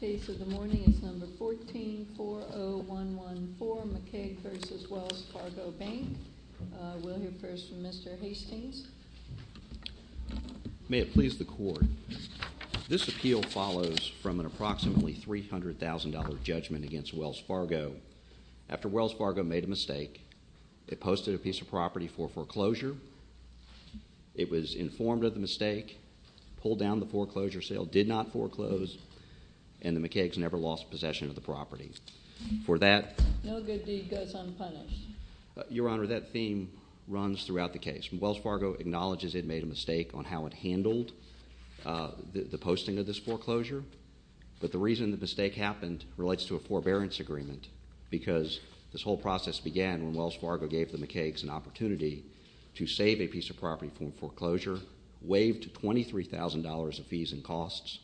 1440114 McCaig v. Wells Fargo Bank May it please the Court. This appeal follows from an approximately $300,000 judgment against Wells Fargo. After Wells Fargo made a mistake, it posted a piece of property for foreclosure. It was informed of the mistake, pulled down the foreclosure sale, did not foreclose, and the McCaig's never lost possession of the property. For that... No good deed goes unpunished. Your Honor, that theme runs throughout the case. Wells Fargo acknowledges it made a mistake on how it handled the posting of this foreclosure, but the reason the mistake happened relates to a forbearance agreement, because this whole process began when Wells Fargo gave the McCaig's an opportunity to save a piece of property from foreclosure, waived $23,000 of fees and costs,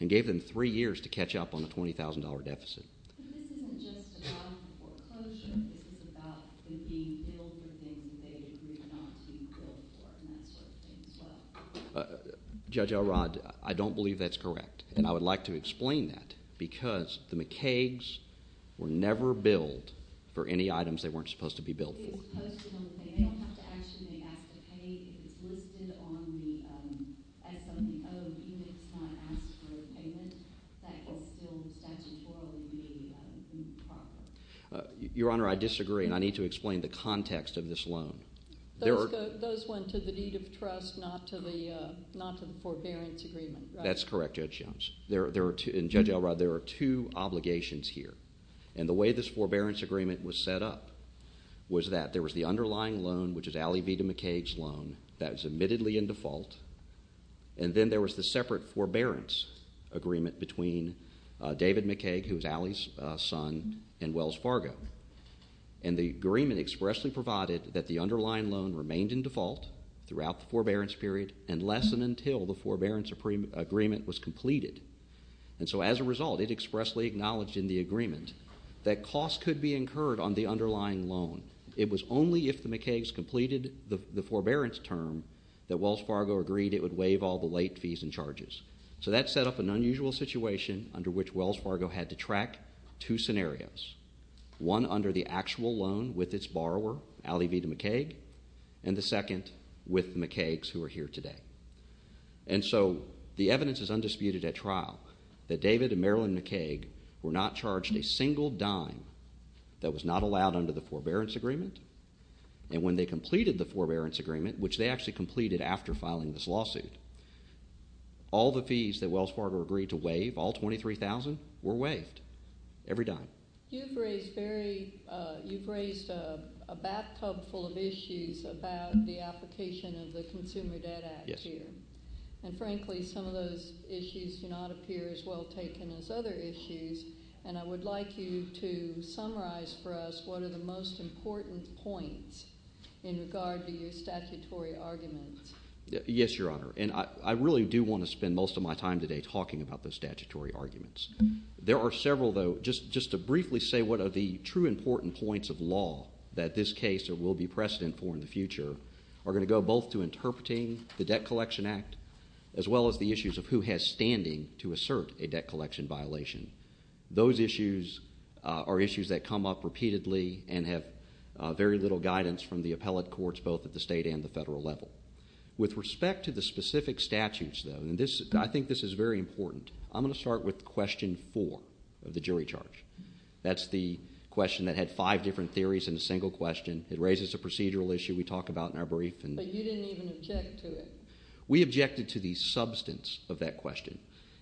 and gave them three years to catch up on a $20,000 deficit. But this isn't just about foreclosure. This is about them being billed for things they agreed not to be billed for, and that sort of thing as well. Judge Elrod, I don't believe that's correct, and I would like to explain that, because the McCaig's were never billed for any items they weren't supposed to be billed for. Your Honor, I disagree, and I need to explain the context of this loan. Those went to the deed of trust, not to the forbearance agreement, right? That's correct, Judge Jones. In Judge Elrod, there are two obligations here, and the way this forbearance agreement was set up was that there was the underlying loan, which is Allie Vita McCaig's loan, that was admittedly in default, and then there was the separate forbearance agreement between David McCaig, who was Allie's son, and Wells Fargo. And the agreement expressly provided that the underlying loan remained in default throughout the forbearance period and less than until the forbearance agreement was completed. And so as a result, it expressly acknowledged in the agreement that costs could be incurred on the underlying loan. It was only if the McCaig's completed the forbearance term that Wells Fargo agreed it would waive all the late fees and charges. So that set up an unusual situation under which Wells Fargo had to track two scenarios. One under the actual loan with its borrower, Allie Vita McCaig, and the second with McCaig's, who are here today. And so the evidence is undisputed at trial that David and Marilyn McCaig were not charged a single dime that was not allowed under the forbearance agreement, and when they completed the forbearance agreement, which they actually completed after filing this lawsuit, all the fees that Wells Fargo agreed to waive, all $23,000, were waived every dime. You've raised a bathtub full of issues about the application of the Consumer Debt Act here. And frankly, some of those issues do not appear as well taken as other issues, and I would like you to summarize for us what are the most important points in regard to your statutory arguments. Yes, Your Honor, and I really do want to spend most of my time today talking about the statutory arguments. There are several, though. Just to briefly say what are the true important points of law that this case will be precedent for in the future are going to go both to interpreting the Debt Collection Act as well as the issues of who has standing to assert a debt collection violation. Those issues are issues that come up repeatedly and have very little guidance from the appellate courts, both at the state and the federal level. With respect to the specific statutes, though, I think this is very important. I'm going to start with question four of the jury charge. That's the question that had five different theories in a single question. It raises a procedural issue we talk about in our brief. But you didn't even object to it. We objected to the substance of that question,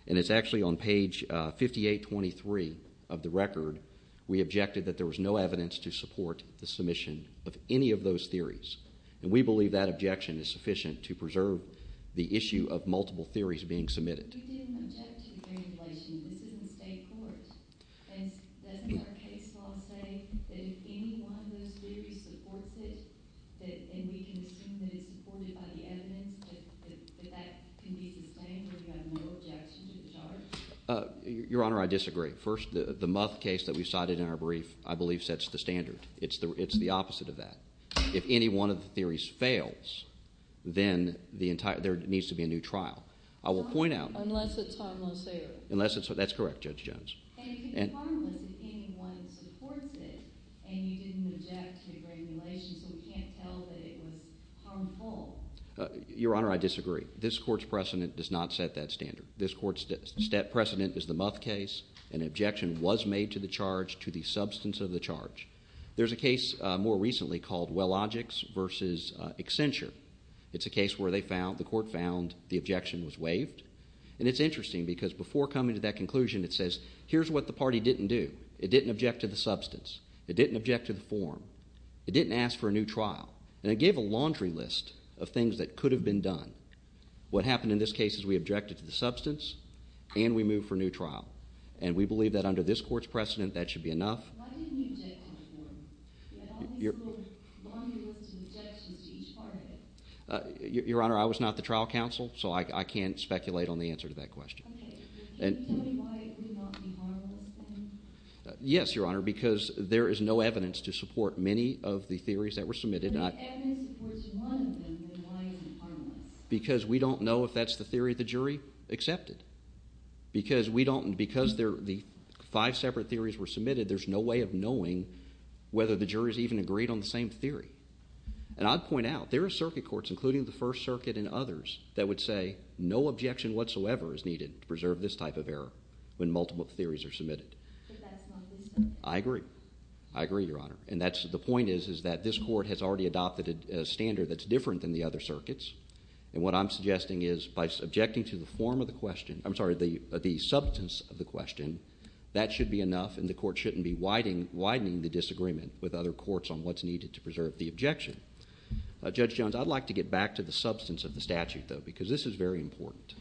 and it's actually on page 5823 of the record. We objected that there was no evidence to support the submission of any of those theories. And we believe that objection is sufficient to preserve the issue of multiple theories being submitted. We didn't object to the theory of violation. This is in the state court. And doesn't our case law say that if any one of those theories supports it, and we can assume that it's supported by the evidence, that that can be sustained where we have no objection to the charge? Your Honor, I disagree. First, the Muth case that we cited in our brief I believe sets the standard. It's the opposite of that. If any one of the theories fails, then there needs to be a new trial. Unless it's harmless there. That's correct, Judge Jones. And it can be harmless if any one supports it, and you didn't object to the regulation so we can't tell that it was harmful. Your Honor, I disagree. This court's precedent does not set that standard. This court's precedent is the Muth case. An objection was made to the charge to the substance of the charge. There's a case more recently called Wellogix v. Accenture. It's a case where the court found the objection was waived. And it's interesting because before coming to that conclusion it says, here's what the party didn't do. It didn't object to the substance. It didn't object to the form. It didn't ask for a new trial. And it gave a laundry list of things that could have been done. What happened in this case is we objected to the substance and we moved for a new trial. And we believe that under this court's precedent that should be enough. Why didn't you object to the form? You had all these little laundry lists of objections to each part of it. Your Honor, I was not the trial counsel, so I can't speculate on the answer to that question. Okay. Can you tell me why it would not be harmless then? Yes, Your Honor, because there is no evidence to support many of the theories that were submitted. If the evidence supports one of them, then why is it harmless? Because we don't know if that's the theory of the jury accepted. Because the five separate theories were submitted, there's no way of knowing whether the jury has even agreed on the same theory. And I'd point out there are circuit courts, including the First Circuit and others, that would say no objection whatsoever is needed to preserve this type of error when multiple theories are submitted. But that is not the standard. I agree. I agree, Your Honor. And the point is that this court has already adopted a standard that's different than the other circuits. And what I'm suggesting is by subjecting to the form of the question, I'm sorry, the substance of the question, that should be enough and the court shouldn't be widening the disagreement with other courts on what's needed to preserve the objection. Judge Jones, I'd like to get back to the substance of the statute, though, because this is very important.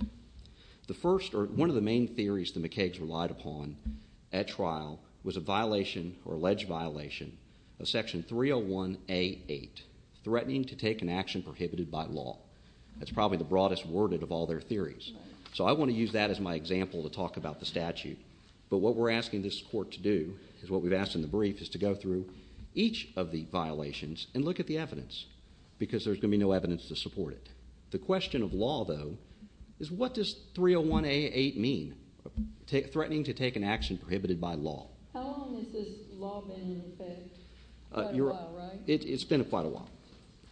The first or one of the main theories the McCagues relied upon at trial was a violation or alleged violation of Section 301A.8, threatening to take an action prohibited by law. That's probably the broadest worded of all their theories. So I want to use that as my example to talk about the statute. But what we're asking this court to do is what we've asked in the brief, is to go through each of the violations and look at the evidence because there's going to be no evidence to support it. The question of law, though, is what does 301A.8 mean, threatening to take an action prohibited by law? How long has this law been in effect? Quite a while, right? It's been quite a while.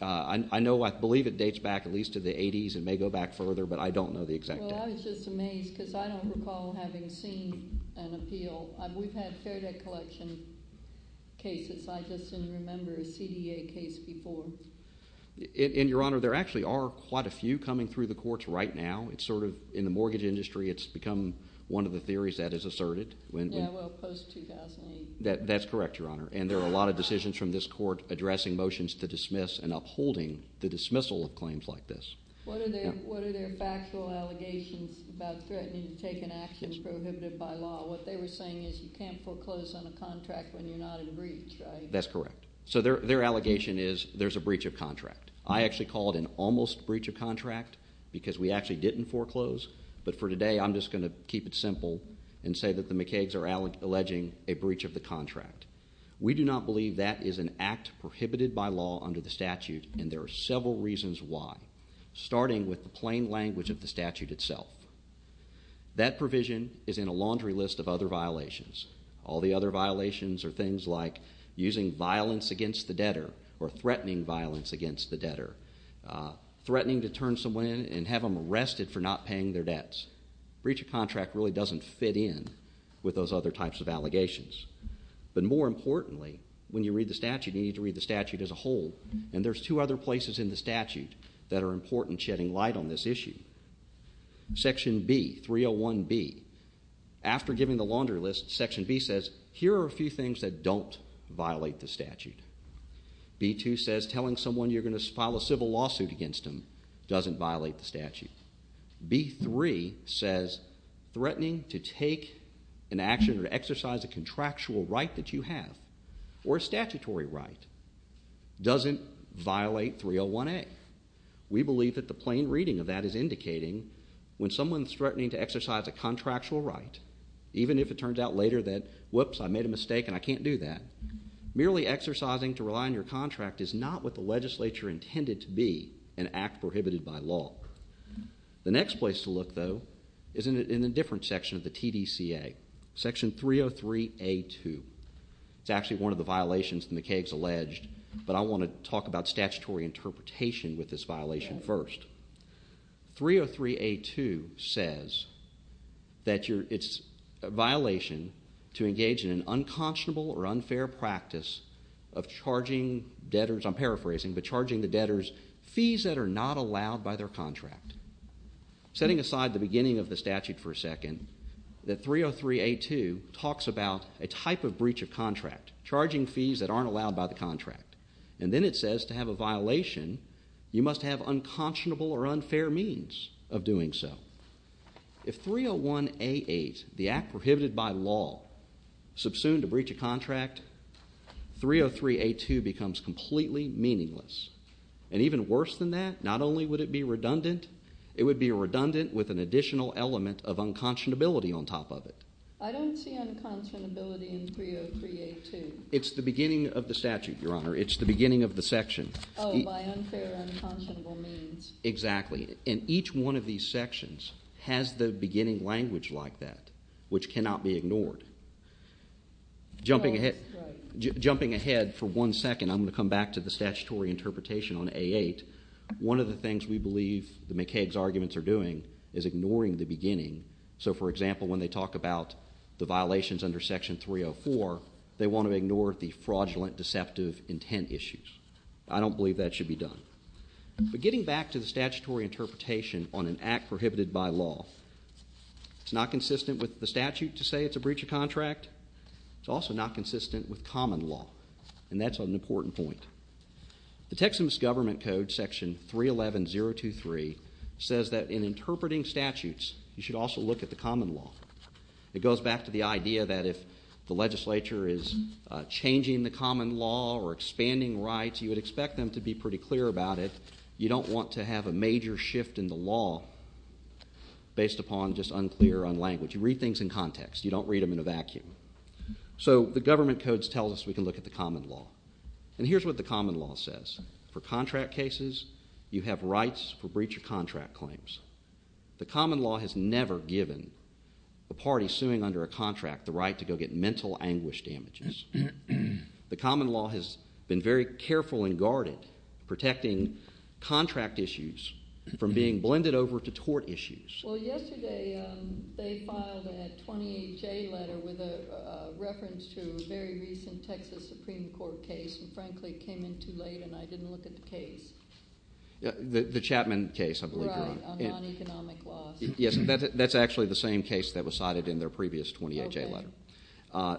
I know I believe it dates back at least to the 80s. It may go back further, but I don't know the exact date. Well, I was just amazed because I don't recall having seen an appeal. We've had fair debt collection cases. I just didn't remember a CDA case before. And, Your Honor, there actually are quite a few coming through the courts right now. It's sort of in the mortgage industry. It's become one of the theories that is asserted. Yeah, well, post-2008. That's correct, Your Honor. And there are a lot of decisions from this court addressing motions to dismiss and upholding the dismissal of claims like this. What are their factual allegations about threatening to take an action prohibited by law? What they were saying is you can't foreclose on a contract when you're not in a breach, right? That's correct. So their allegation is there's a breach of contract. I actually call it an almost breach of contract because we actually didn't foreclose. But for today, I'm just going to keep it simple and say that the McCagues are alleging a breach of the contract. We do not believe that is an act prohibited by law under the statute, and there are several reasons why, starting with the plain language of the statute itself. That provision is in a laundry list of other violations. All the other violations are things like using violence against the debtor or threatening violence against the debtor, threatening to turn someone in and have them arrested for not paying their debts. Breach of contract really doesn't fit in with those other types of allegations. But more importantly, when you read the statute, you need to read the statute as a whole, and there's two other places in the statute that are important shedding light on this issue. Section B, 301B, after giving the laundry list, Section B says here are a few things that don't violate the statute. B2 says telling someone you're going to file a civil lawsuit against them doesn't violate the statute. B3 says threatening to take an action or exercise a contractual right that you have or a statutory right doesn't violate 301A. We believe that the plain reading of that is indicating when someone's threatening to exercise a contractual right, even if it turns out later that, whoops, I made a mistake and I can't do that, merely exercising to rely on your contract is not what the legislature intended to be, an act prohibited by law. The next place to look, though, is in a different section of the TDCA, Section 303A2. It's actually one of the violations that McCaig has alleged, but I want to talk about statutory interpretation with this violation first. 303A2 says that it's a violation to engage in an unconscionable or unfair practice of charging debtors, I'm paraphrasing, but charging the debtors fees that are not allowed by their contract. Setting aside the beginning of the statute for a second, that 303A2 talks about a type of breach of contract, charging fees that aren't allowed by the contract. And then it says to have a violation, you must have unconscionable or unfair means of doing so. If 301A8, the act prohibited by law, subsumed a breach of contract, 303A2 becomes completely meaningless. And even worse than that, not only would it be redundant, it would be redundant with an additional element of unconscionability on top of it. I don't see unconscionability in 303A2. It's the beginning of the statute, Your Honor. It's the beginning of the section. Oh, by unfair unconscionable means. Exactly. And each one of these sections has the beginning language like that, which cannot be ignored. Jumping ahead for one second, I'm going to come back to the statutory interpretation on 303A8. One of the things we believe that McCaig's arguments are doing is ignoring the beginning. So, for example, when they talk about the violations under Section 304, they want to ignore the fraudulent, deceptive intent issues. I don't believe that should be done. But getting back to the statutory interpretation on an act prohibited by law, it's not consistent with the statute to say it's a breach of contract. It's also not consistent with common law, and that's an important point. The Texas Government Code, Section 311.023, says that in interpreting statutes, you should also look at the common law. It goes back to the idea that if the legislature is changing the common law or expanding rights, you would expect them to be pretty clear about it. You don't want to have a major shift in the law based upon just unclear on language. You read things in context. You don't read them in a vacuum. So the Government Code tells us we can look at the common law. And here's what the common law says. For contract cases, you have rights for breach of contract claims. The common law has never given a party suing under a contract the right to go get mental anguish damages. The common law has been very careful and guarded, protecting contract issues from being blended over to tort issues. Well, yesterday they filed a 28-J letter with a reference to a very recent Texas Supreme Court case. And, frankly, it came in too late, and I didn't look at the case. The Chapman case, I believe you're on. Right, on non-economic laws. Yes, that's actually the same case that was cited in their previous 28-J letter.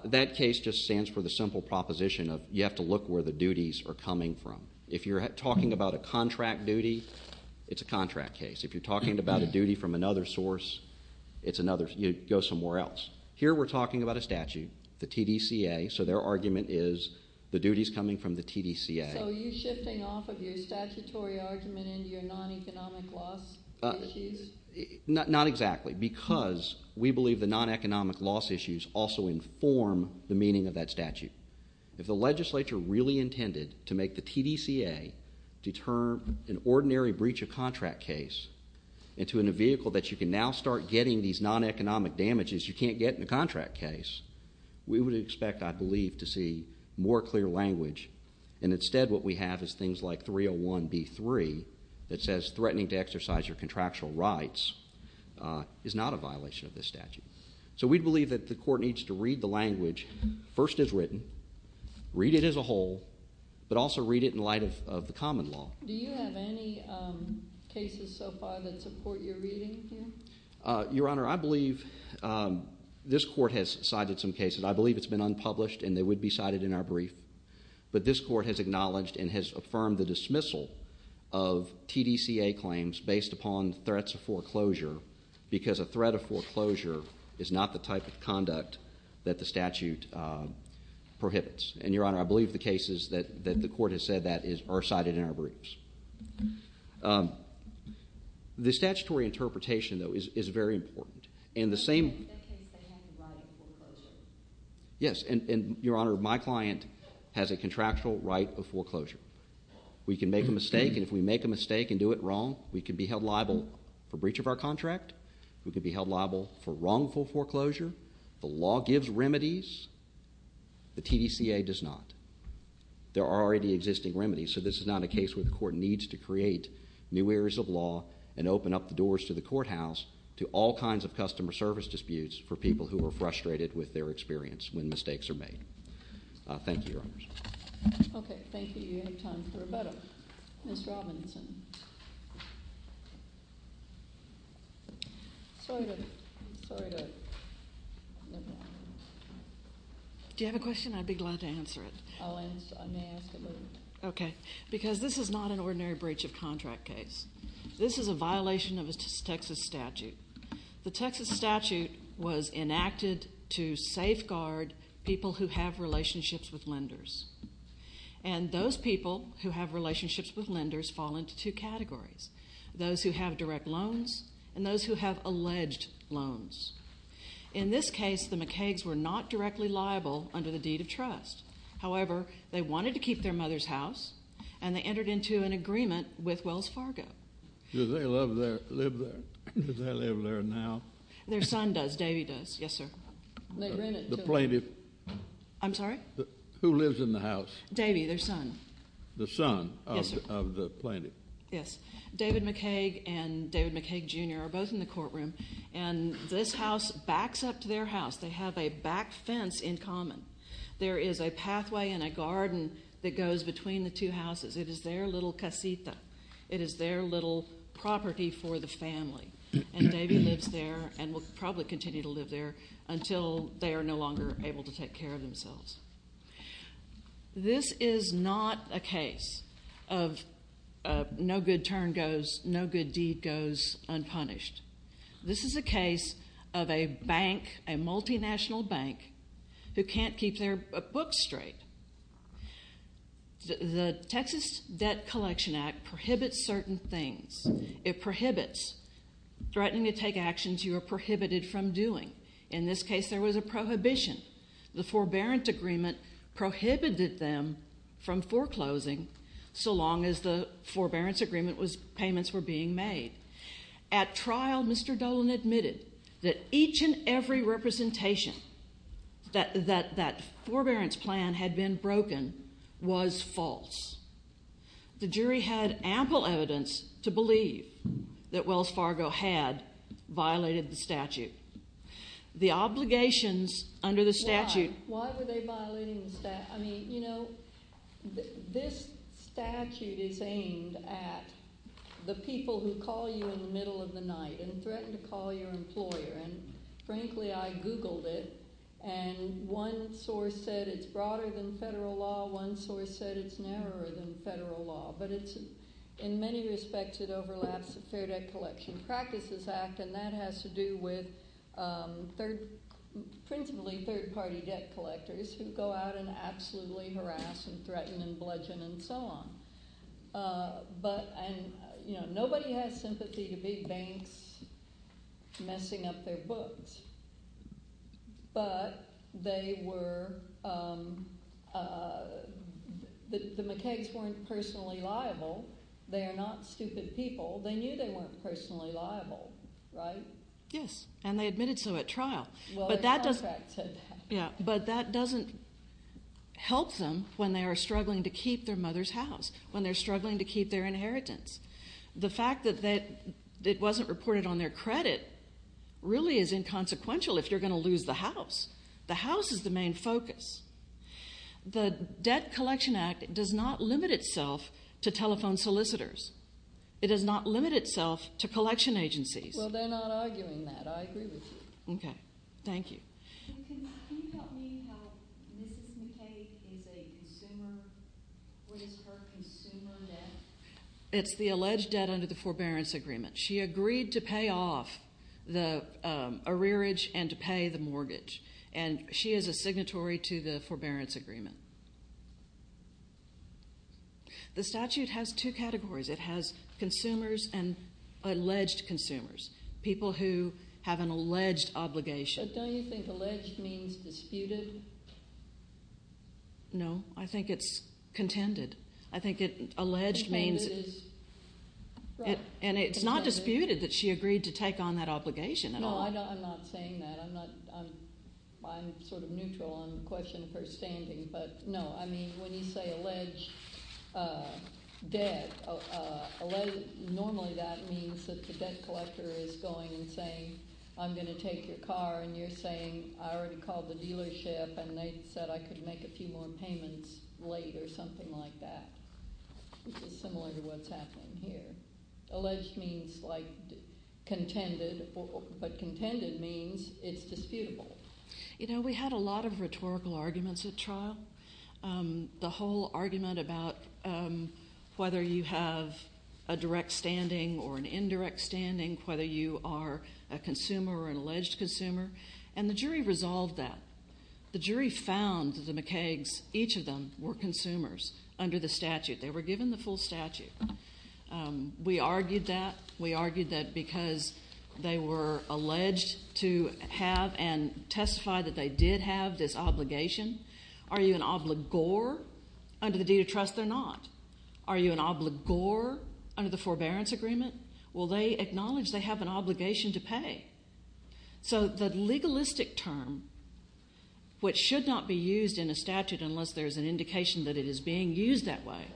That case just stands for the simple proposition of you have to look where the duties are coming from. If you're talking about a contract duty, it's a contract case. If you're talking about a duty from another source, it's another. You go somewhere else. Here we're talking about a statute, the TDCA, so their argument is the duties coming from the TDCA. So are you shifting off of your statutory argument into your non-economic loss issues? Not exactly, because we believe the non-economic loss issues also inform the meaning of that statute. If the legislature really intended to make the TDCA to turn an ordinary breach of contract case into a vehicle that you can now start getting these non-economic damages you can't get in a contract case, we would expect, I believe, to see more clear language. And instead what we have is things like 301B3 that says threatening to exercise your contractual rights is not a violation of this statute. So we believe that the court needs to read the language first as written, read it as a whole, but also read it in light of the common law. Do you have any cases so far that support your reading here? Your Honor, I believe this court has cited some cases. I believe it's been unpublished and they would be cited in our brief. But this court has acknowledged and has affirmed the dismissal of TDCA claims based upon threats of foreclosure because a threat of foreclosure is not the type of conduct that the statute prohibits. And, Your Honor, I believe the cases that the court has said that are cited in our briefs. The statutory interpretation, though, is very important. In that case they have the right of foreclosure. Yes, and, Your Honor, my client has a contractual right of foreclosure. We can make a mistake, and if we make a mistake and do it wrong, we can be held liable for breach of our contract. We can be held liable for wrongful foreclosure. The law gives remedies. The TDCA does not. There are already existing remedies, so this is not a case where the court needs to create new areas of law and open up the doors to the courthouse to all kinds of customer service disputes for people who are frustrated with their experience when mistakes are made. Thank you, Your Honors. Okay, thank you. You have time for a moment. Ms. Robinson. Sorry to interrupt. Do you have a question? I'd be glad to answer it. I'll answer. I may ask a little bit. Okay, because this is not an ordinary breach of contract case. This is a violation of a Texas statute. The Texas statute was enacted to safeguard people who have relationships with lenders, and those people who have relationships with lenders fall into two categories, those who have direct loans and those who have alleged loans. In this case, the McCagues were not directly liable under the deed of trust. However, they wanted to keep their mother's house, and they entered into an agreement with Wells Fargo. Do they live there? Do they live there now? Their son does. Davey does. Yes, sir. The plaintiff. I'm sorry? Who lives in the house? Davey, their son. The son of the plaintiff. Yes. David McCague and David McCague, Jr. are both in the courtroom, and this house backs up to their house. They have a back fence in common. There is a pathway and a garden that goes between the two houses. It is their little casita. It is their little property for the family, and Davey lives there and will probably continue to live there until they are no longer able to take care of themselves. This is not a case of no good turn goes, no good deed goes unpunished. This is a case of a bank, a multinational bank, who can't keep their books straight. The Texas Debt Collection Act prohibits certain things. It prohibits threatening to take actions you are prohibited from doing. In this case, there was a prohibition. The forbearance agreement prohibited them from foreclosing so long as the forbearance agreement payments were being made. At trial, Mr. Dolan admitted that each and every representation, that that forbearance plan had been broken, was false. The jury had ample evidence to believe that Wells Fargo had violated the statute. The obligations under the statute... Why? Why were they violating the statute? I mean, you know, this statute is aimed at the people who call you in the middle of the night and threaten to call your employer, and frankly, I googled it, and one source said it's broader than federal law. One source said it's narrower than federal law. But in many respects, it overlaps the Fair Debt Collection Practices Act, and that has to do with principally third-party debt collectors who go out and absolutely harass and threaten and bludgeon and so on. But, you know, nobody has sympathy to big banks messing up their books, but they were... The McKeggs weren't personally liable. They are not stupid people. They knew they weren't personally liable, right? Yes, and they admitted so at trial. Well, their contract said that. But that doesn't help them when they are struggling to keep their mother's house, when they're struggling to keep their inheritance. The fact that it wasn't reported on their credit really is inconsequential if you're going to lose the house. The house is the main focus. The Debt Collection Act does not limit itself to telephone solicitors. It does not limit itself to collection agencies. Well, they're not arguing that. I agree with you. Okay. Thank you. Can you tell me how Mrs. McKegg is a consumer? What is her consumer debt? It's the alleged debt under the forbearance agreement. She agreed to pay off the arrearage and to pay the mortgage, and she is a signatory to the forbearance agreement. The statute has two categories. It has consumers and alleged consumers, people who have an alleged obligation. But don't you think alleged means disputed? No, I think it's contended. I think alleged means it's not disputed that she agreed to take on that obligation at all. No, I'm not saying that. I'm sort of neutral on the question of her standing. But, no, I mean, when you say alleged debt, normally that means that the debt collector is going and saying, I'm going to take your car, and you're saying I already called the dealership and they said I could make a few more payments late or something like that, which is similar to what's happening here. Alleged means, like, contended, but contended means it's disputable. You know, we had a lot of rhetorical arguments at trial. The whole argument about whether you have a direct standing or an indirect standing, whether you are a consumer or an alleged consumer, and the jury resolved that. The jury found that the McKeggs, each of them, were consumers under the statute. They were given the full statute. We argued that. We argued that because they were alleged to have and testified that they did have this obligation. Are you an obligor? Under the deed of trust, they're not. Are you an obligor under the forbearance agreement? Well, they acknowledge they have an obligation to pay. So the legalistic term, which should not be used in a statute unless there's an indication that it is being used that way,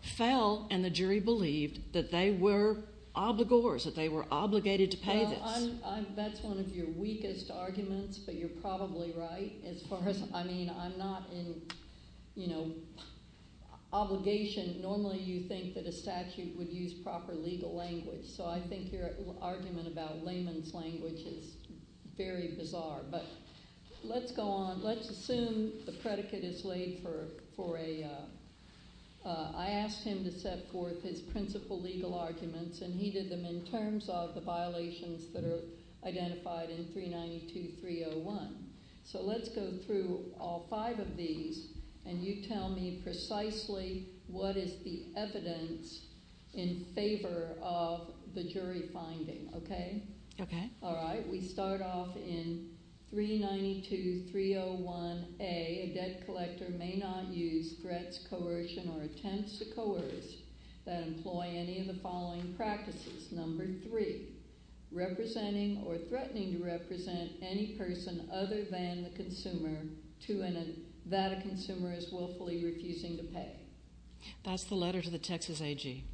fell and the jury believed that they were obligors, that they were obligated to pay this. That's one of your weakest arguments, but you're probably right as far as, I mean, I'm not in, you know, obligation. Normally you think that a statute would use proper legal language, so I think your argument about layman's language is very bizarre. But let's go on. Let's assume the predicate is laid for a ‑‑ I asked him to set forth his principal legal arguments, and he did them in terms of the violations that are identified in 392.301. So let's go through all five of these, and you tell me precisely what is the evidence in favor of the jury finding, okay? Okay. All right. We start off in 392.301A, a debt collector may not use threats, coercion, or attempts to coerce that employ any of the following practices. Number three, representing or threatening to represent any person other than the consumer to an ‑‑ that a consumer is willfully refusing to pay. That's the letter to the Texas AG.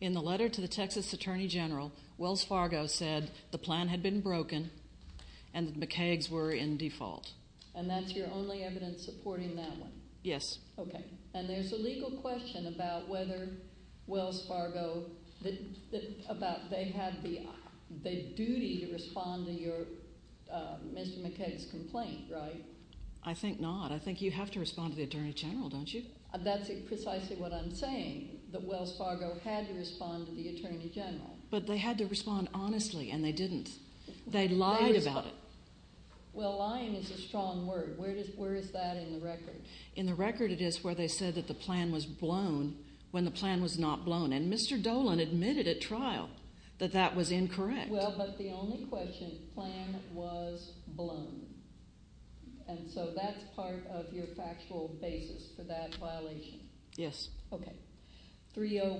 In the letter to the Texas Attorney General, Wells Fargo said the plan had been broken and the macaques were in default. And that's your only evidence supporting that one? Yes. Okay. And there's a legal question about whether Wells Fargo ‑‑ about they had the duty to respond to your ‑‑ Mr. Macaques' complaint, right? I think not. I think you have to respond to the Attorney General, don't you? That's precisely what I'm saying, that Wells Fargo had to respond to the Attorney General. But they had to respond honestly, and they didn't. They lied about it. Well, lying is a strong word. Where is that in the record? In the record it is where they said that the plan was blown when the plan was not blown. And Mr. Dolan admitted at trial that that was incorrect. Well, but the only question, plan was blown. And so that's part of your factual basis for that violation. Yes. Okay. Threatening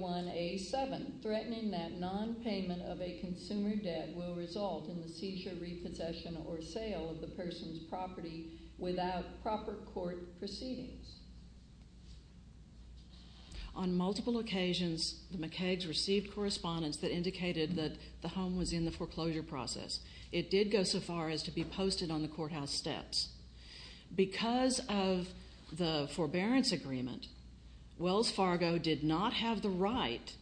that nonpayment of a consumer debt will result in the seizure, repossession, or sale of the person's property without proper court proceedings. On multiple occasions, the macaques received correspondence that indicated that the home was in the foreclosure process. It did go so far as to be posted on the courthouse steps. Because of the forbearance agreement, Wells Fargo did not have the right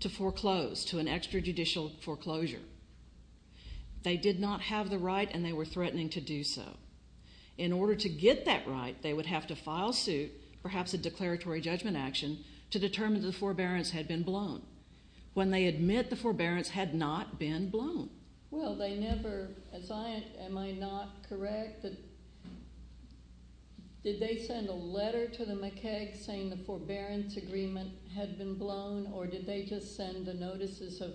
to foreclose, to an extrajudicial foreclosure. They did not have the right, and they were threatening to do so. In order to get that right, they would have to file suit, perhaps a declaratory judgment action, to determine that the forbearance had been blown. When they admit the forbearance had not been blown. Well, they never, as I, am I not correct, did they send a letter to the macaques saying the forbearance agreement had been blown, or did they just send the notices of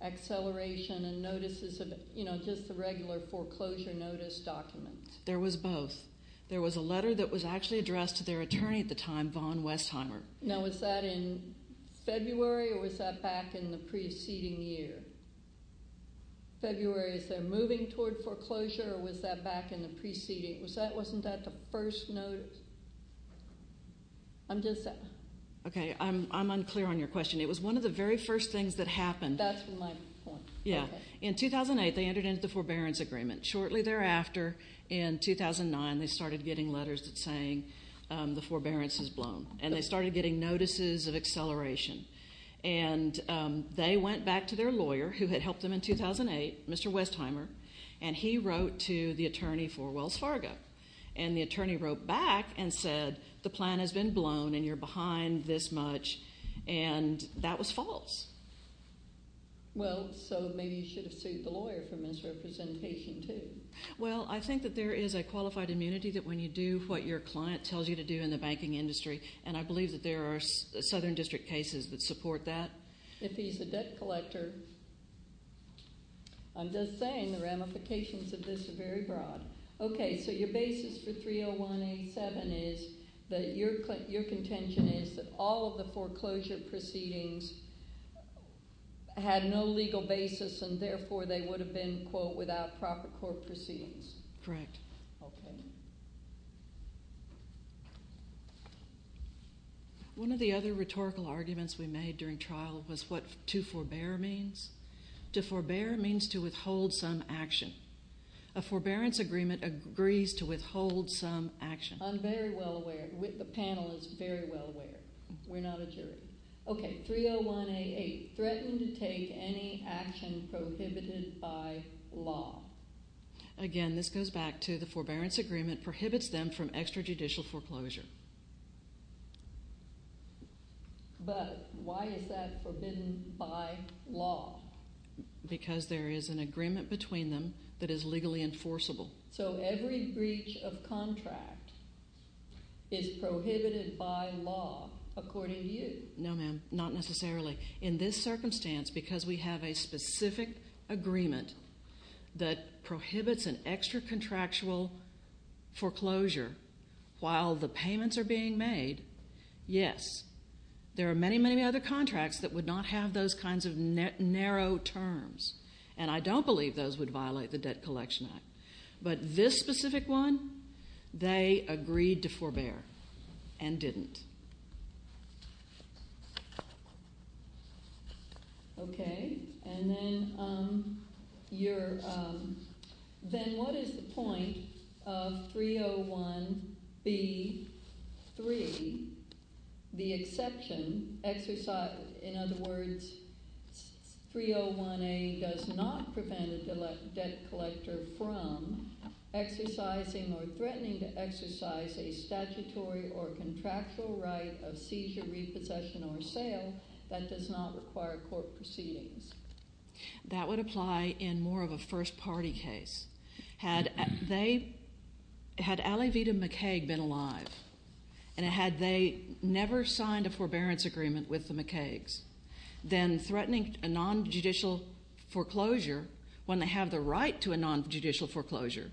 acceleration and notices of, you know, just the regular foreclosure notice document? There was both. There was a letter that was actually addressed to their attorney at the time, Vaughn Westheimer. Now, was that in February, or was that back in the preceding year? February, is they're moving toward foreclosure, or was that back in the preceding? Wasn't that the first notice? I'm just saying. Okay, I'm unclear on your question. It was one of the very first things that happened. That's my point. Yeah. In 2008, they entered into the forbearance agreement. Shortly thereafter, in 2009, they started getting letters saying the forbearance has blown, and they started getting notices of acceleration. And they went back to their lawyer, who had helped them in 2008, Mr. Westheimer, and he wrote to the attorney for Wells Fargo. And the attorney wrote back and said, the plan has been blown, and you're behind this much. And that was false. Well, so maybe you should have sued the lawyer for misrepresentation, too. Well, I think that there is a qualified immunity that when you do what your client tells you to do in the banking industry, and I believe that there are southern district cases that support that. If he's a debt collector, I'm just saying the ramifications of this are very broad. Okay, so your basis for 30187 is that your contention is that all of the foreclosure proceedings had no legal basis, and therefore they would have been, quote, without proper court proceedings. Correct. Okay. One of the other rhetorical arguments we made during trial was what to forbear means. To forbear means to withhold some action. A forbearance agreement agrees to withhold some action. I'm very well aware. The panel is very well aware. We're not a jury. Okay, 30188, threaten to take any action prohibited by law. Again, this goes back to the forbearance agreement prohibits them from extrajudicial foreclosure. But why is that forbidden by law? Because there is an agreement between them that is legally enforceable. So every breach of contract is prohibited by law, according to you? No, ma'am, not necessarily. In this circumstance, because we have a specific agreement that prohibits an extracontractual foreclosure while the payments are being made, yes. There are many, many other contracts that would not have those kinds of narrow terms, and I don't believe those would violate the Debt Collection Act. But this specific one, they agreed to forbear and didn't. Okay, and then what is the point of 301B3, the exception? In other words, 301A does not prevent a debt collector from exercising or threatening to exercise a statutory or contractual right of seizure, repossession, or sale. That does not require court proceedings. That would apply in more of a first-party case. Had they, had Alavita McCaig been alive, and had they never signed a forbearance agreement with the McCaigs, then threatening a nonjudicial foreclosure when they have the right to a nonjudicial foreclosure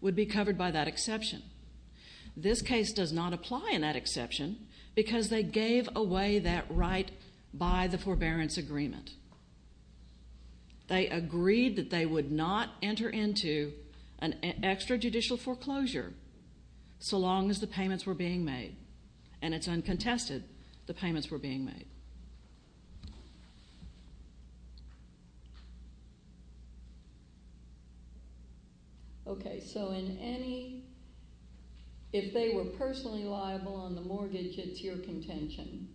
would be covered by that exception. This case does not apply in that exception because they gave away that right by the forbearance agreement. They agreed that they would not enter into an extrajudicial foreclosure so long as the payments were being made, and it's uncontested the payments were being made. Okay, so in any, if they were personally liable on the mortgage, it's your contention.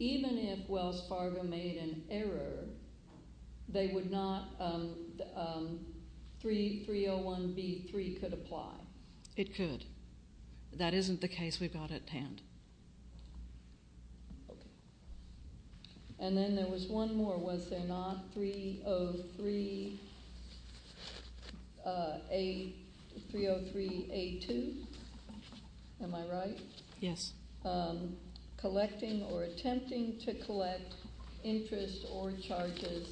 Even if Wells Fargo made an error, they would not, 301B3 could apply. It could. That isn't the case we've got at hand. Okay. And then there was one more. Was there not 303A, 303A2? Am I right? Yes. Collecting or attempting to collect interest or charges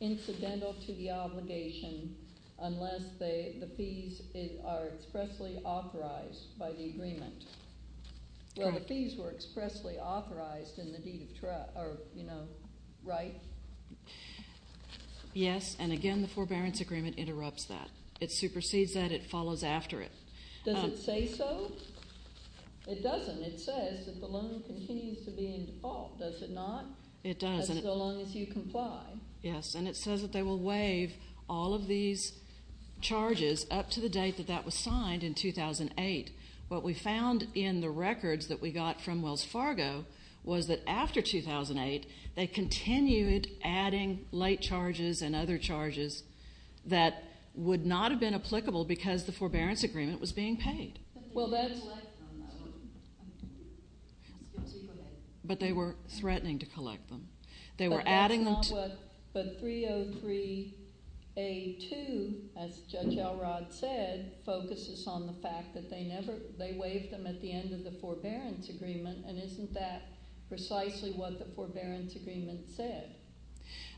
incidental to the obligation unless the fees are expressly authorized by the agreement. Well, the fees were expressly authorized in the deed of, you know, right? Yes, and again, the forbearance agreement interrupts that. It supersedes that. It follows after it. Does it say so? It doesn't. It says that the loan continues to be in default. Does it not? It doesn't. That's so long as you comply. Yes, and it says that they will waive all of these charges up to the date that that was signed in 2008. What we found in the records that we got from Wells Fargo was that after 2008, they continued adding late charges and other charges that would not have been applicable because the forbearance agreement was being paid. But they didn't collect them, though. But they were threatening to collect them. They were adding them to. But 303A2, as Judge Elrod said, focuses on the fact that they never, they waived them at the end of the forbearance agreement, and isn't that precisely what the forbearance agreement said?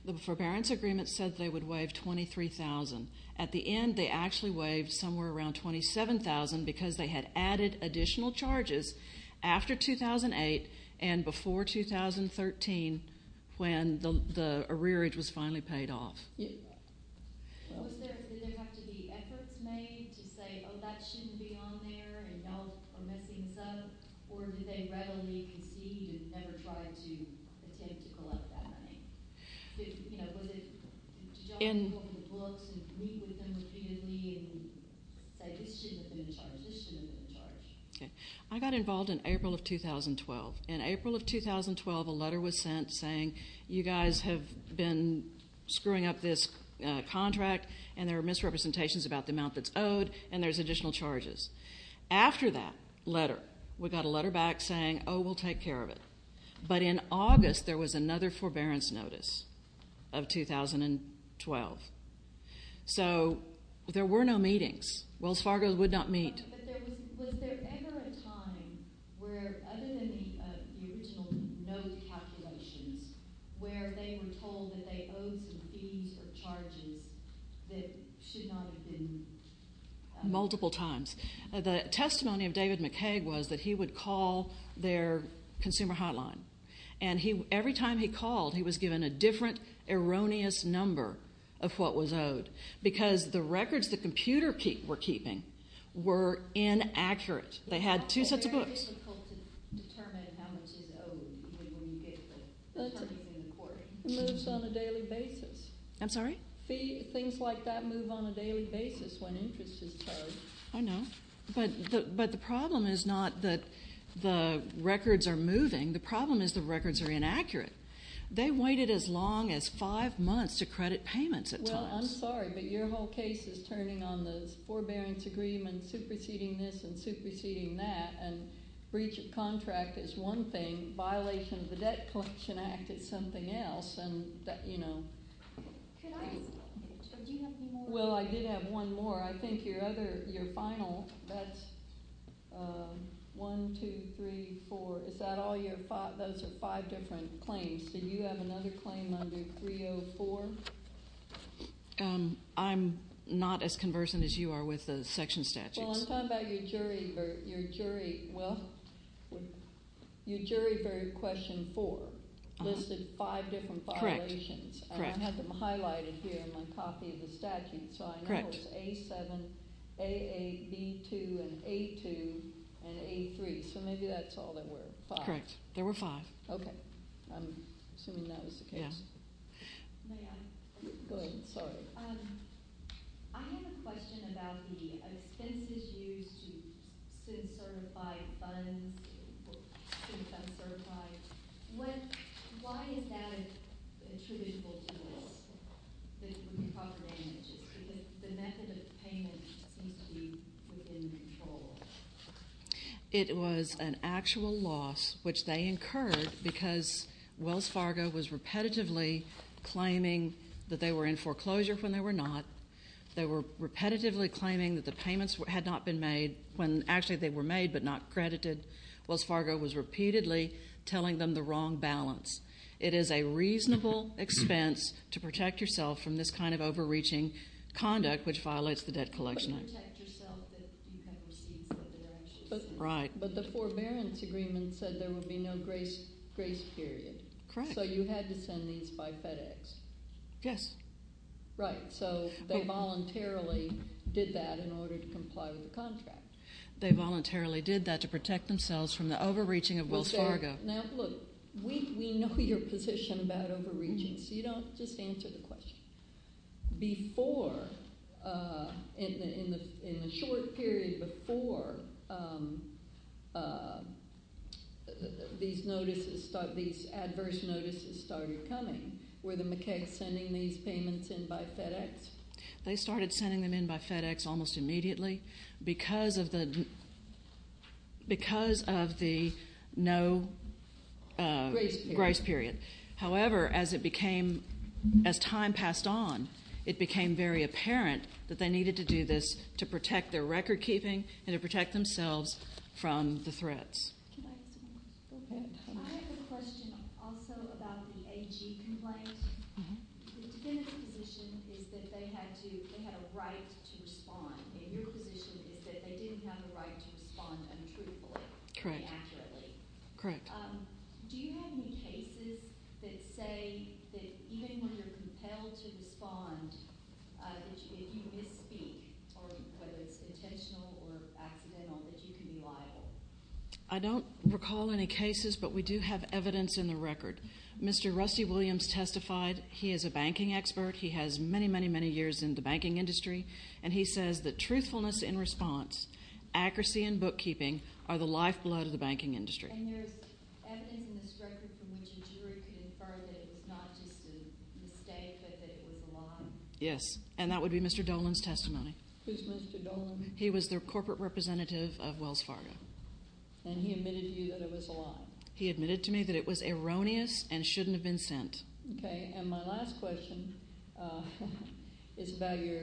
The forbearance agreement said they would waive 23,000. At the end, they actually waived somewhere around 27,000 because they had added additional charges after 2008 and before 2013 when the arrearage was finally paid off. Did there have to be efforts made to say, oh, that shouldn't be on there and y'all are messing this up, or did they readily concede and never try to attempt to collect that money? You know, was it to jump in front of the books and meet with them repeatedly and say, this shouldn't have been charged, this shouldn't have been charged? I got involved in April of 2012. In April of 2012, a letter was sent saying, you guys have been screwing up this contract and there are misrepresentations about the amount that's owed and there's additional charges. After that letter, we got a letter back saying, oh, we'll take care of it. But in August, there was another forbearance notice of 2012. So there were no meetings. Wells Fargo would not meet. But was there ever a time where, other than the original note calculations, where they were told that they owed some fees or charges that should not have been? Multiple times. The testimony of David McKaig was that he would call their consumer hotline. And every time he called, he was given a different erroneous number of what was owed, because the records the computer were keeping were inaccurate. They had two sets of books. It's very difficult to determine how much is owed when you get the terms in the court. It moves on a daily basis. I'm sorry? Fees, things like that move on a daily basis when interest is towed. I know. But the problem is not that the records are moving. The problem is the records are inaccurate. They waited as long as five months to credit payments at times. Well, I'm sorry, but your whole case is turning on the forbearance agreement, superseding this and superseding that, and breach of contract is one thing. Violation of the Debt Collection Act is something else. And, you know. Can I ask a question? Do you have one more? Well, I did have one more. I think your other, your final, that's one, two, three, four. Is that all your, those are five different claims. Do you have another claim under 304? I'm not as conversant as you are with the section statutes. Well, I'm talking about your jury, your jury, well, your jury for question four listed five different violations. Correct, correct. I have them highlighted here in my copy of the statute. So I know it's A7, A8, B2, and A2, and A3. So maybe that's all there were, five. Correct. There were five. Okay. I'm assuming that was the case. Yeah. May I? Go ahead. Sorry. I have a question about the expenses used to SID certify funds, to become certified. Why is that attributable to this, the recovered damages? The method of payment seems to be within control. It was an actual loss, which they incurred because Wells Fargo was repetitively claiming that they were in foreclosure when they were not. They were repetitively claiming that the payments had not been made when actually they were made but not credited. Wells Fargo was repeatedly telling them the wrong balance. It is a reasonable expense to protect yourself from this kind of overreaching conduct, which violates the Debt Collection Act. But you protect yourself if you have receipts that they're actually sent. Right. But the forbearance agreement said there would be no grace period. Correct. So you had to send these by FedEx. Yes. Right. So they voluntarily did that in order to comply with the contract. They voluntarily did that to protect themselves from the overreaching of Wells Fargo. Now, look, we know your position about overreaching, so you don't just answer the question. Before, in the short period before these adverse notices started coming, were the McKegs sending these payments in by FedEx? They started sending them in by FedEx almost immediately. Because of the no grace period. However, as time passed on, it became very apparent that they needed to do this to protect their record keeping and to protect themselves from the threats. Can I ask a question? Go ahead. I have a question also about the AG complaint. The defendant's position is that they had a right to respond. And your position is that they didn't have a right to respond untruthfully. Correct. Accurately. Correct. Do you have any cases that say that even when you're compelled to respond, if you misspeak, whether it's intentional or accidental, that you can be liable? I don't recall any cases, but we do have evidence in the record. Mr. Rusty Williams testified. He is a banking expert. He has many, many, many years in the banking industry. And he says that truthfulness in response, accuracy in bookkeeping are the lifeblood of the banking industry. And there's evidence in this record from which a jury could infer that it was not just a mistake but that it was a lie? Yes. And that would be Mr. Dolan's testimony. Who's Mr. Dolan? He was the corporate representative of Wells Fargo. And he admitted to you that it was a lie? He admitted to me that it was erroneous and shouldn't have been sent. Okay. And my last question is about your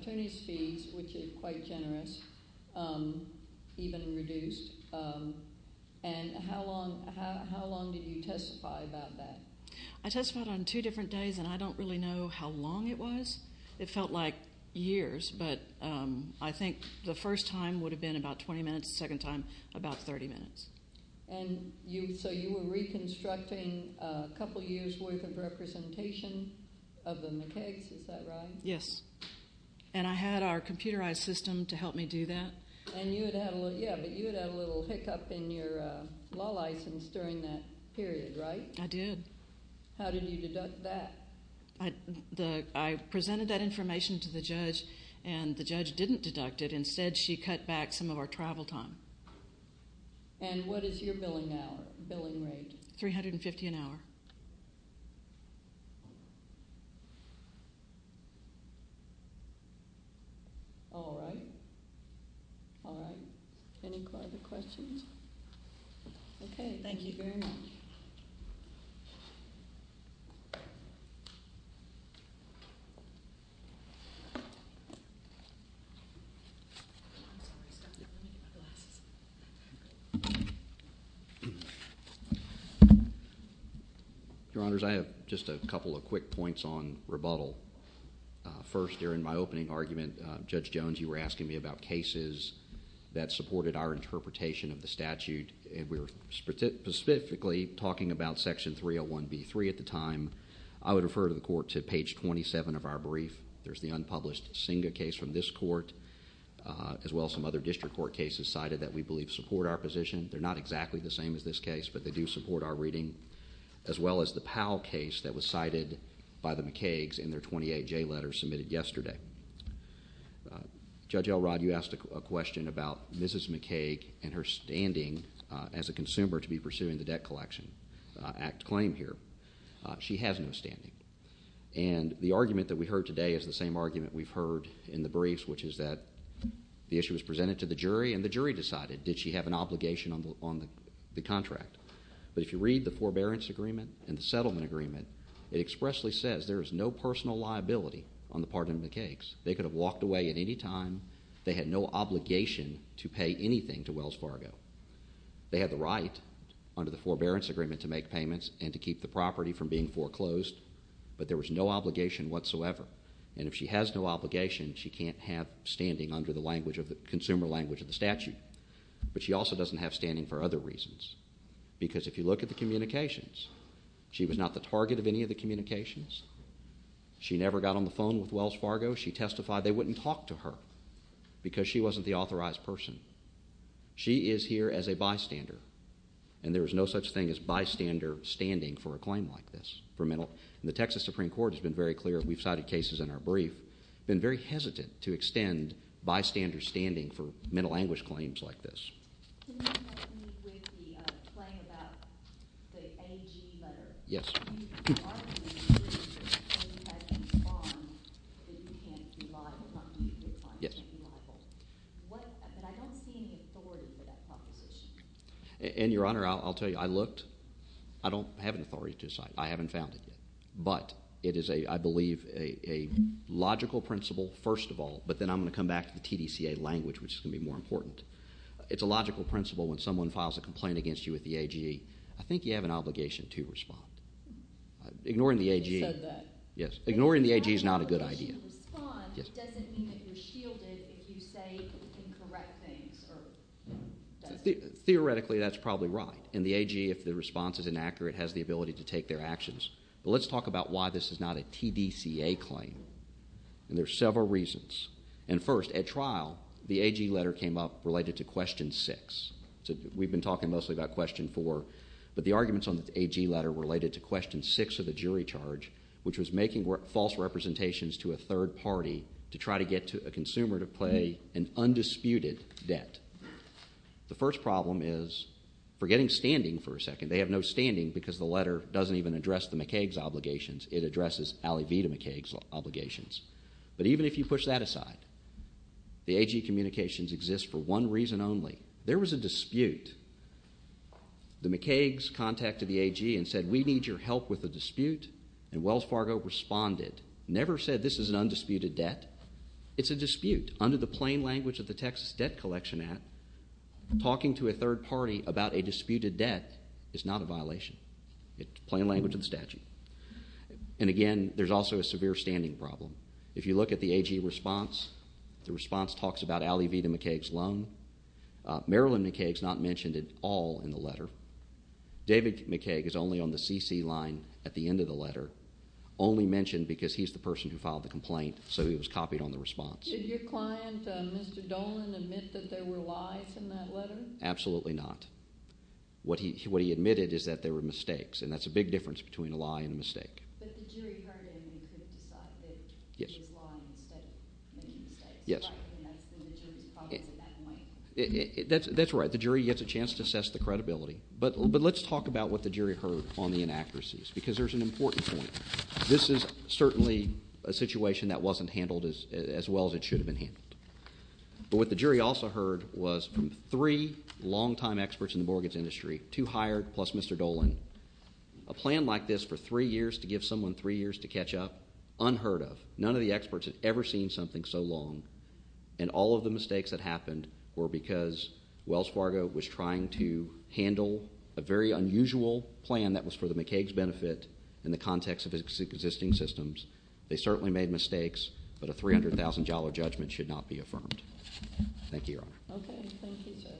attorney's fees, which is quite generous, even reduced. And how long did you testify about that? I testified on two different days, and I don't really know how long it was. It felt like years, but I think the first time would have been about 20 minutes, the second time about 30 minutes. And so you were reconstructing a couple years' worth of representation of the McKegs, is that right? Yes. And I had our computerized system to help me do that. Yeah, but you had had a little hiccup in your law license during that period, right? I did. How did you deduct that? I presented that information to the judge, and the judge didn't deduct it. Instead, she cut back some of our travel time. And what is your billing hour, billing rate? $350 an hour. All right. All right. Any further questions? Okay. Thank you very much. Your Honor, I have just a couple of quick points on rebuttal. First, during my opening argument, Judge Jones, you were asking me about cases that supported our interpretation of the statute. And we were specifically talking about Section 301B3 at the time. I would refer to the court to page 27 of our brief. There's the unpublished Singa case from this court, as well as some other district court cases cited that we believe support our position. They're not exactly the same as this case, but they do support our reading. As well as the Powell case that was cited by the McKegs in their 28J letters submitted yesterday. Judge Elrod, you asked a question about Mrs. McKeg and her standing as a consumer to be pursuing the Debt Collection Act claim here. She has no standing. And the argument that we heard today is the same argument we've heard in the briefs, which is that the issue was presented to the jury, and the jury decided, did she have an obligation on the contract? But if you read the forbearance agreement and the settlement agreement, it expressly says there is no personal liability on the part of the McKegs. They could have walked away at any time. They had no obligation to pay anything to Wells Fargo. They had the right under the forbearance agreement to make payments and to keep the property from being foreclosed. But there was no obligation whatsoever. And if she has no obligation, she can't have standing under the consumer language of the statute. But she also doesn't have standing for other reasons. Because if you look at the communications, she was not the target of any of the communications. She never got on the phone with Wells Fargo. She testified they wouldn't talk to her because she wasn't the authorized person. She is here as a bystander, and there is no such thing as bystander standing for a claim like this. The Texas Supreme Court has been very clear. We've cited cases in our brief, been very hesitant to extend bystander standing for mental anguish claims like this. Can you help me with the claim about the A.G. letter? Yes. You argued that you had a bond that you can't be liable. Yes. But I don't see any authority for that proposition. And, Your Honor, I'll tell you, I looked. I don't have an authority to decide. I haven't found it yet. But it is, I believe, a logical principle, first of all. But then I'm going to come back to the TDCA language, which is going to be more important. It's a logical principle when someone files a complaint against you with the A.G. I think you have an obligation to respond. Ignoring the A.G. You said that. Yes. Ignoring the A.G. is not a good idea. If you have an obligation to respond, it doesn't mean that you're shielded if you say incorrect things. Theoretically, that's probably right. And the A.G., if the response is inaccurate, has the ability to take their actions. But let's talk about why this is not a TDCA claim. And there are several reasons. And, first, at trial, the A.G. letter came up related to question six. We've been talking mostly about question four. But the arguments on the A.G. letter related to question six of the jury charge, which was making false representations to a third party to try to get a consumer to pay an undisputed debt. The first problem is forgetting standing for a second. They have no standing because the letter doesn't even address the McKaig's obligations. It addresses Ali Vita McKaig's obligations. But even if you push that aside, the A.G. communications exist for one reason only. There was a dispute. The McKaig's contacted the A.G. and said, we need your help with the dispute. And Wells Fargo responded. Never said this is an undisputed debt. It's a dispute. Under the plain language of the Texas Debt Collection Act, talking to a third party about a disputed debt is not a violation. It's plain language of the statute. And, again, there's also a severe standing problem. If you look at the A.G. response, the response talks about Ali Vita McKaig's loan. Marilyn McKaig's not mentioned at all in the letter. David McKaig is only on the C.C. line at the end of the letter, only mentioned because he's the person who filed the complaint, so he was copied on the response. Did your client, Mr. Dolan, admit that there were lies in that letter? Absolutely not. What he admitted is that there were mistakes, and that's a big difference between a lie and a mistake. But the jury heard him and could have decided that he was lying instead of making mistakes, right? Yes. And that's been the jury's problem at that point? That's right. The jury gets a chance to assess the credibility. But let's talk about what the jury heard on the inaccuracies because there's an important point. This is certainly a situation that wasn't handled as well as it should have been handled. But what the jury also heard was from three longtime experts in the mortgage industry, two hired plus Mr. Dolan, a plan like this for three years to give someone three years to catch up, unheard of. None of the experts had ever seen something so long, and all of the mistakes that happened were because Wells Fargo was trying to handle a very unusual plan that was for the McKaig's benefit in the context of its existing systems. They certainly made mistakes, but a $300,000 judgment should not be affirmed. Thank you, Your Honor. Okay. Thank you, sir.